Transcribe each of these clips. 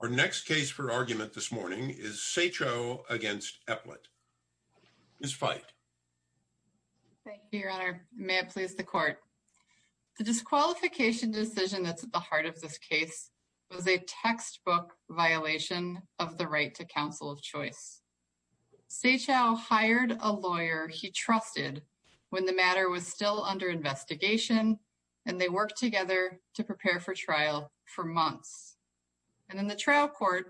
Our next case for argument this morning is Saechao v. Eplett. Ms. Feit. Thank you, Your Honor. May it please the Court. The disqualification decision that's at the heart of this case was a textbook violation of the right to counsel of choice. Saechao hired a lawyer he trusted when the matter was still under investigation, and they worked together to and then the trial court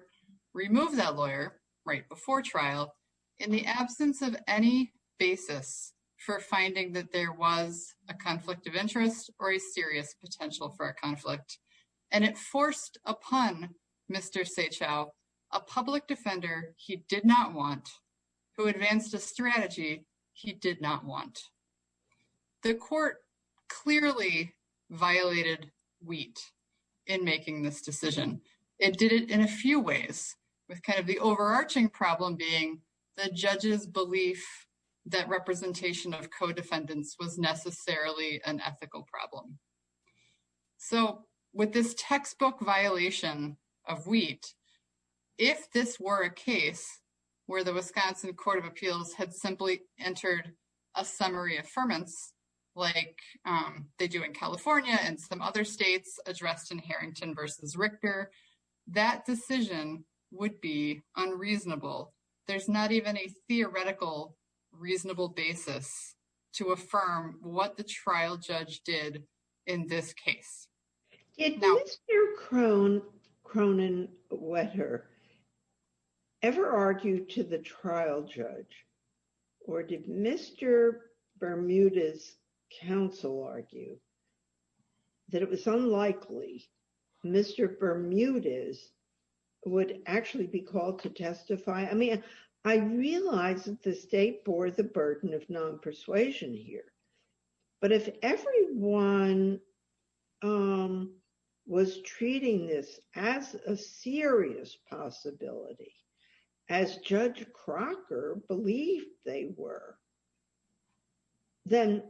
removed that lawyer right before trial in the absence of any basis for finding that there was a conflict of interest or a serious potential for a conflict. And it forced upon Mr. Saechao a public defender he did not want, who advanced a strategy he did not want. The court clearly violated wheat in making this decision. It did it in a few ways, with kind of the overarching problem being the judge's belief that representation of co-defendants was necessarily an ethical problem. So with this textbook violation of wheat, if this were a case where the Wisconsin Court of Appeals had simply entered a summary affirmance, like they do in California and some other states addressed in Harrington v. Richter, that decision would be unreasonable. There's not even a theoretical reasonable basis to affirm what the trial judge did in this case. Did Mr. Cronenwetter ever argue to the trial judge? Or did Mr. Bermudez's counsel argue that it was unlikely Mr. Bermudez would actually be called to testify? I mean, I realize that the state bore the burden of non-persuasion here. But if everyone was treating this as a serious possibility, as Judge Crocker believed they were, then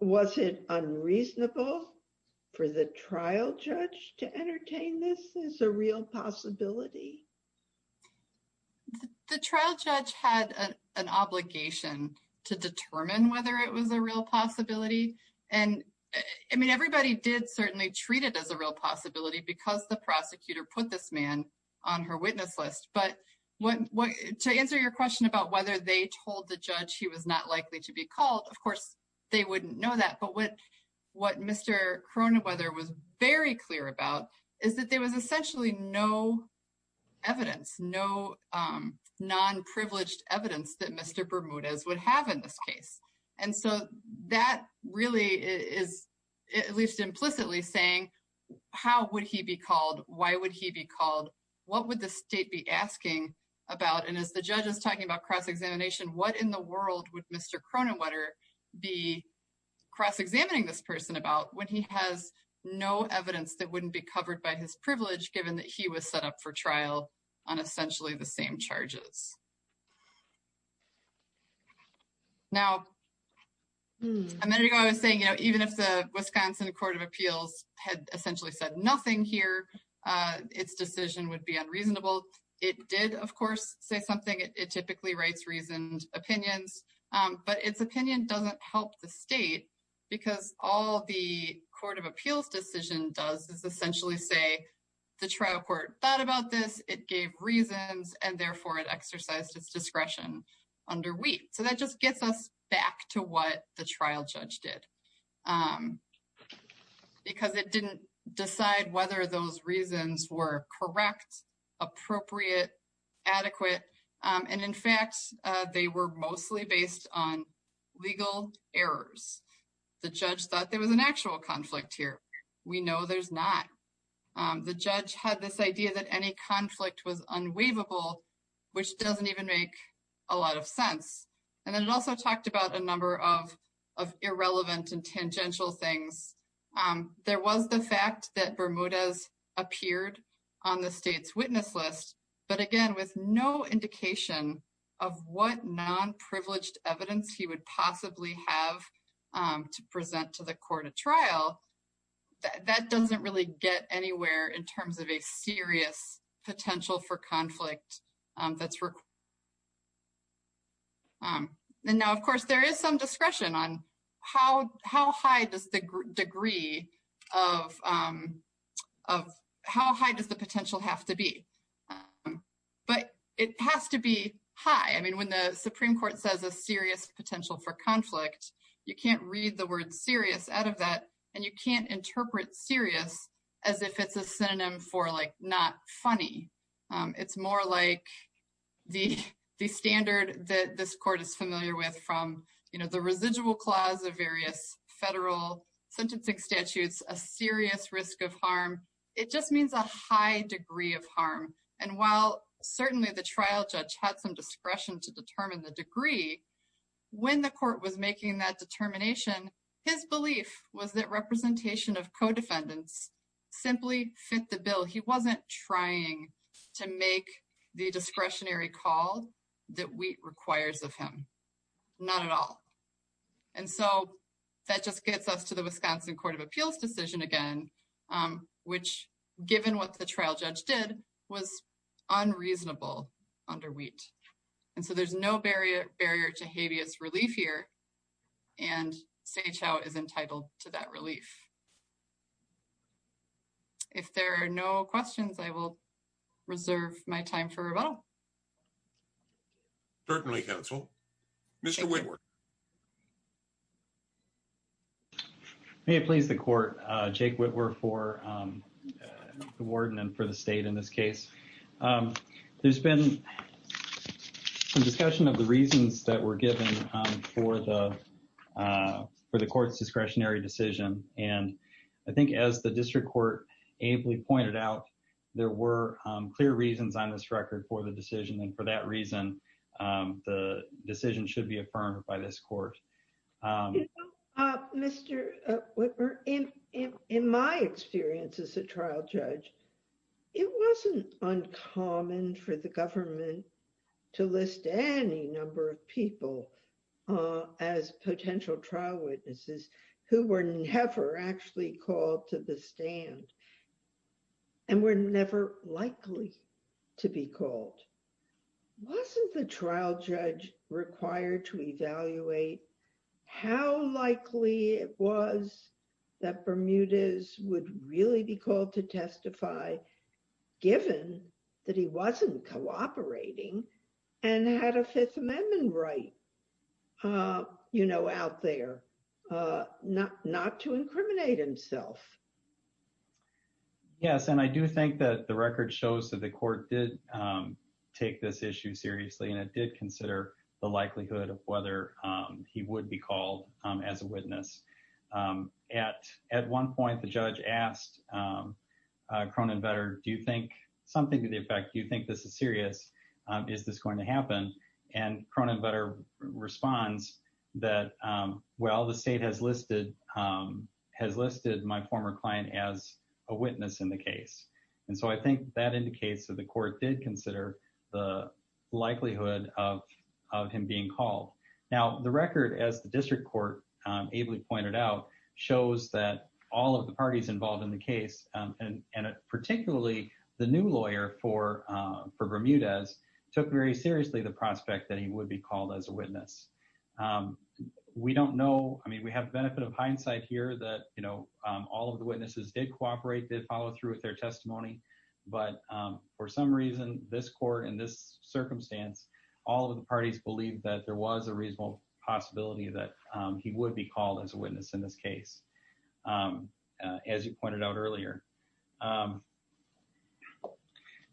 was it unreasonable for the trial judge to entertain this as a real possibility? The trial judge had an obligation to determine whether it was a real possibility. And I mean, everybody did certainly treat it as a real possibility because the prosecutor put this man on her witness list. But to answer your question about whether they told the judge he was not likely to be called, of course, they wouldn't know that. But what Mr. Cronenwetter was very clear about is that there was essentially no evidence, no non-privileged evidence that Mr. And so that really is at least implicitly saying, how would he be called? Why would he be called? What would the state be asking about? And as the judge is talking about cross-examination, what in the world would Mr. Cronenwetter be cross-examining this person about when he has no evidence that wouldn't be covered by his privilege, given that he was set up for trial on essentially the same charges? Now, a minute ago, I was saying, even if the Wisconsin Court of Appeals had essentially said nothing here, its decision would be unreasonable. It did, of course, say something. It typically writes reasoned opinions. But its opinion doesn't help the state because all the Court of Appeals decision does is essentially say, the trial thought about this, it gave reasons, and therefore, it exercised its discretion under we. So that just gets us back to what the trial judge did, because it didn't decide whether those reasons were correct, appropriate, adequate. And in fact, they were mostly based on legal errors. The judge thought there was an actual conflict here. We know there's not. The judge had this idea that any conflict was unwaivable, which doesn't even make a lot of sense. And then it also talked about a number of irrelevant and tangential things. There was the fact that Bermudez appeared on the state's witness list, but again, with no indication of what non-privileged evidence he would possibly have to present to the court of trial, that doesn't really get anywhere in terms of a serious potential for conflict that's required. And now, of course, there is some discretion on how high does the degree of how high does the potential have to be. But it has to be high. I You can't read the word serious out of that, and you can't interpret serious as if it's a synonym for not funny. It's more like the standard that this court is familiar with from the residual clause of various federal sentencing statutes, a serious risk of harm. It just means a high degree of harm. And while certainly the trial judge had some discretion to determine the degree, when the court was making that determination, his belief was that representation of co-defendants simply fit the bill. He wasn't trying to make the discretionary call that wheat requires of him, not at all. And so, that just gets us to the Wisconsin Court of Appeals decision again, which, given what the trial judge did, was unreasonable under wheat. And so, there's no barrier to habeas relief here, and Sage Howe is entitled to that relief. If there are no questions, I will reserve my time for rebuttal. Certainly, counsel. Mr. Whitworth. May it please the court. Jake Whitworth for the warden and for the state in this case. There's been some discussion of the reasons that were given for the court's discretionary decision. And I think as the district court ably pointed out, there were clear reasons on this record for the decision. And for that reason, the decision should be affirmed by this court. Mr. Whitworth, in my experience as a trial judge, it wasn't uncommon for the government to list any number of people as potential trial witnesses who were never actually called to the court. Wasn't the trial judge required to evaluate how likely it was that Bermudez would really be called to testify, given that he wasn't cooperating and had a Fifth Amendment right, you know, out there, not to incriminate himself? Yes. And I do think that the record shows that the court did take this issue seriously, and it did consider the likelihood of whether he would be called as a witness. At one point, the judge asked Cronan Vetter, do you think something to the effect, do you think this is serious? Is this going to happen? And Cronan Vetter responds that, well, the state has listed my former client as a witness in the case. And so I think that indicates that the court did consider the likelihood of him being called. Now, the record, as the district court ably pointed out, shows that all of the parties involved in the case, and particularly the new lawyer for Bermudez, took very seriously the prospect that he would be called as a witness. We don't know, I mean, we have the benefit of hindsight here that, all of the witnesses did cooperate, did follow through with their testimony. But for some reason, this court in this circumstance, all of the parties believed that there was a reasonable possibility that he would be called as a witness in this case, as you pointed out earlier.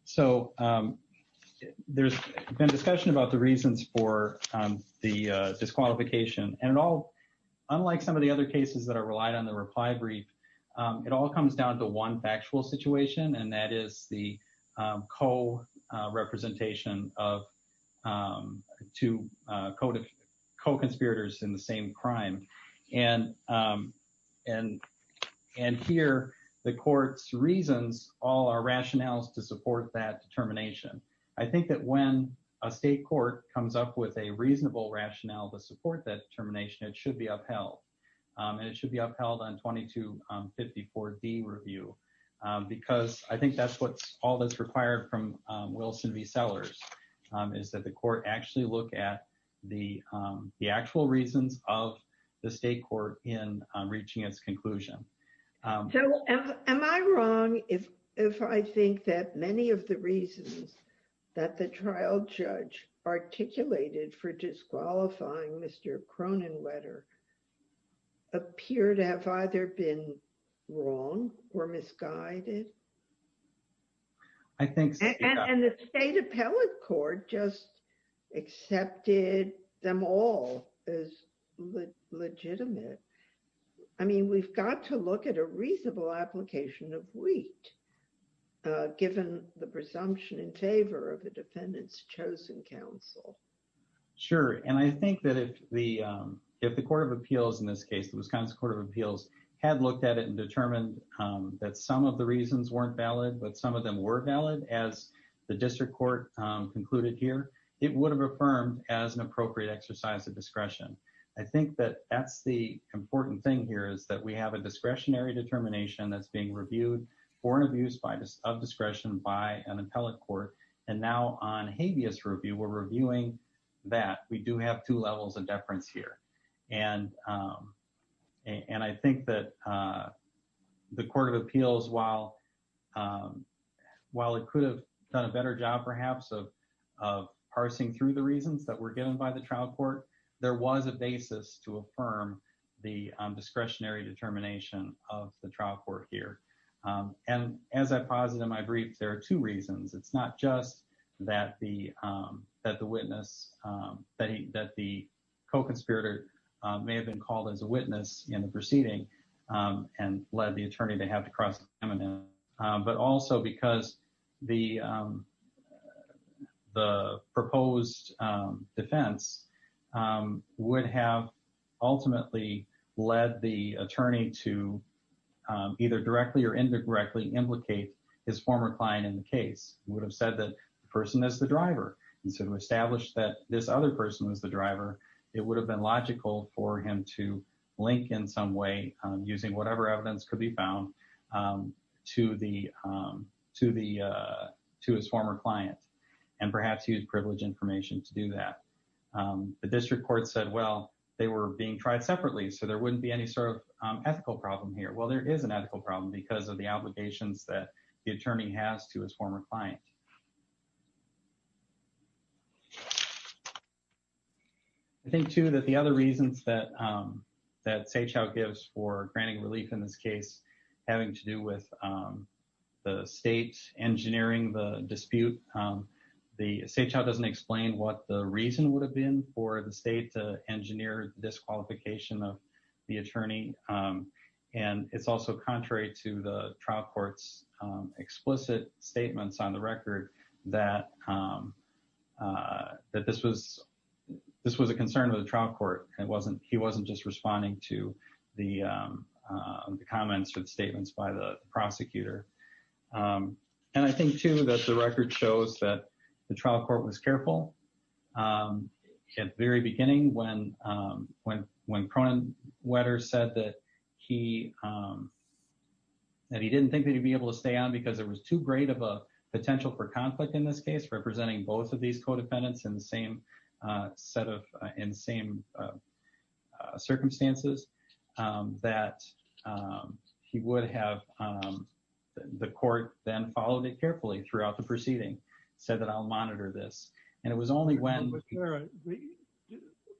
So there's been discussion about the reasons for the disqualification. And unlike some of the other cases that are relied on the reply brief, it all comes down to one factual situation, and that is the co-representation of two co-conspirators in the same crime. And here, the court's reasons all are rationales to support that determination. I think that when a state court comes up with a reasonable rationale to support that determination, it should be upheld. And it should be upheld on 2254D review, because I think that's what's all that's required from Wilson v. Sellers, is that the court actually look at the actual reasons of the state court in reaching its conclusion. So am I wrong if I think that many of the reasons that the trial judge articulated for disqualifying Mr. Cronenwetter appear to have either been wrong or misguided? I think so. And the state appellate court just accepted them all as legitimate. I mean, we've got to look at a reasonable application of wheat, given the presumption in favor of the defendant's chosen counsel. Sure. And I think that if the Court of Appeals in this case, the Wisconsin Court of Appeals had looked at it and determined that some of the reasons weren't valid, but some of them were valid, as the district court concluded here, it would have affirmed as an appropriate exercise of discretion. I think that that's the important thing here, is that we have a discretionary determination that's being reviewed for an abuse of discretion by an appellate court. And now on habeas review, we're reviewing that. We do have two levels of deference here. And I think that the Court of Appeals, while it could have done a better job perhaps of parsing through the reasons that were given by the trial court, there was a basis to affirm the discretionary determination of the trial court here. And as I posited in my brief, there are two reasons. It's not just that the witness, that the co-conspirator may have been called as a witness in the proceeding and led the attorney to have to cross examine him, but also because the proposed defense would have ultimately led the attorney to either directly or indirectly implicate his former client in the case. It would have said that the person is the driver. And so to establish that this other person was the driver, it would have been logical for him to link in some way, using whatever evidence could be found, to his former client, and perhaps use privilege information to do that. The district court said, well, they were being tried separately, so there wouldn't be any sort of ethical problem here. Well, there is an ethical problem because of the obligations that the attorney has to his former client. I think, too, that the other reasons that Sehchow gives for granting relief in this case, having to do with the state's engineering the dispute, Sehchow doesn't explain what the reason would have been for the state to engineer disqualification of the attorney. And it's also contrary to the trial court's explicit statements on the record that this was a concern of the trial court. He wasn't just responding to the comments or the statements by the prosecutor. And I think, too, that the record shows that the trial court was careful at the very beginning when Cronenwetter said that he didn't think that he'd be able to stay on because there was too great of a potential for conflict in this case, representing both of these co-defendants in the same circumstances, that he would have the court then followed it carefully throughout the proceeding, said that I'll monitor this. And it was only when...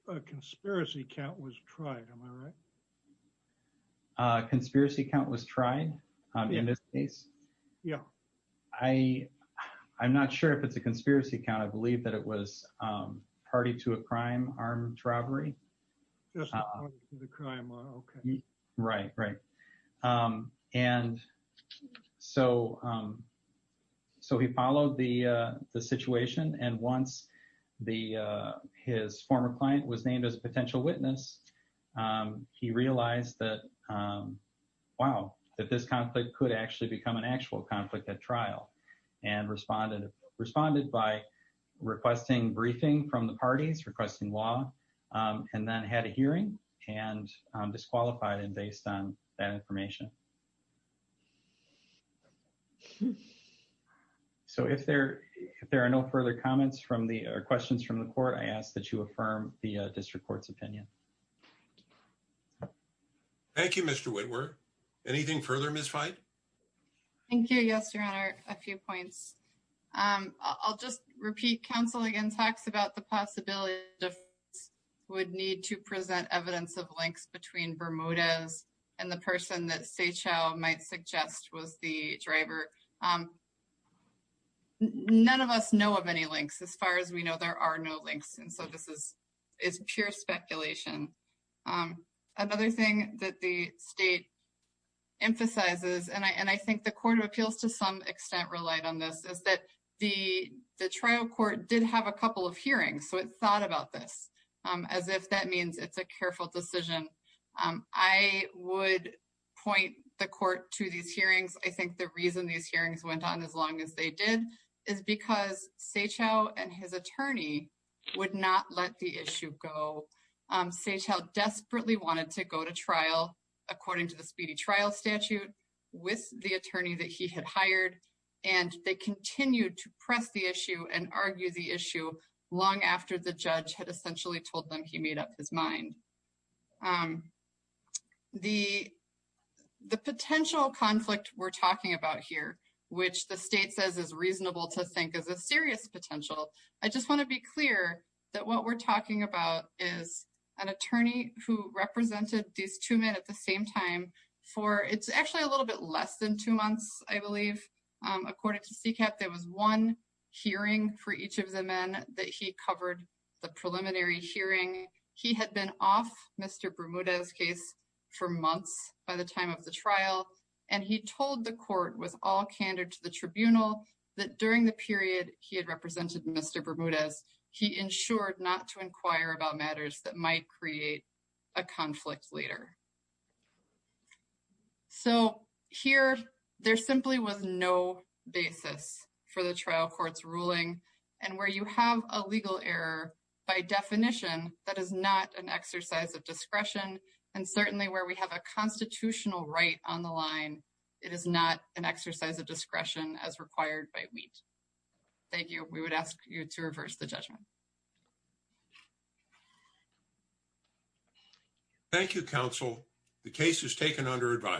A conspiracy count was tried, am I right? A conspiracy count was tried in this case? Yeah. I'm not sure if it's a conspiracy count. I believe that it was party to a crime armed robbery. Right, right. And so he followed the situation. And once his former client was named as a potential witness, he realized that, wow, that this conflict could actually become an actual conflict at trial, and responded by requesting briefing from the parties, requesting law, and then had a hearing and disqualified him based on that information. So if there are no further questions from the court, I ask that you affirm the district court's opinion. Thank you, Mr. Whitworth. Anything further, Ms. Fein? Thank you. Yes, Your Honor, a few points. I'll just repeat, counsel again talks about the possibility of... Would need to present evidence of links between Bermudez and the person that Seychell might suggest was the driver. None of us know of any links. As far as we know, there are no links. And so this is pure speculation. Another thing that the state emphasizes, and I think the court of appeals to some extent relied on this, is that the trial court did have a couple of hearings. So it thought about this as if that means it's a careful decision. I would point the court to these hearings. I think the reason these hearings went on as long as they did is because Seychell and his attorney would not let the issue go. Seychell desperately wanted to go to trial according to the speedy trial statute with the press the issue and argue the issue long after the judge had essentially told them he made up his mind. The potential conflict we're talking about here, which the state says is reasonable to think is a serious potential, I just want to be clear that what we're talking about is an attorney who represented these two men at the same time for... It's actually a little bit less than two months, I believe. According to CCAP, there was one hearing for each of the men that he covered the preliminary hearing. He had been off Mr. Bermudez's case for months by the time of the trial. And he told the court with all candor to the tribunal that during the period he had represented Mr. Bermudez, he ensured not to inquire about matters that might create a conflict later. So, here, there simply was no basis for the trial court's ruling. And where you have a legal error, by definition, that is not an exercise of discretion. And certainly where we have a constitutional right on the line, it is not an exercise of discretion as required by WHEAT. Thank you. We would ask you to reverse the judgment. Thank you, counsel. The case is taken under advice.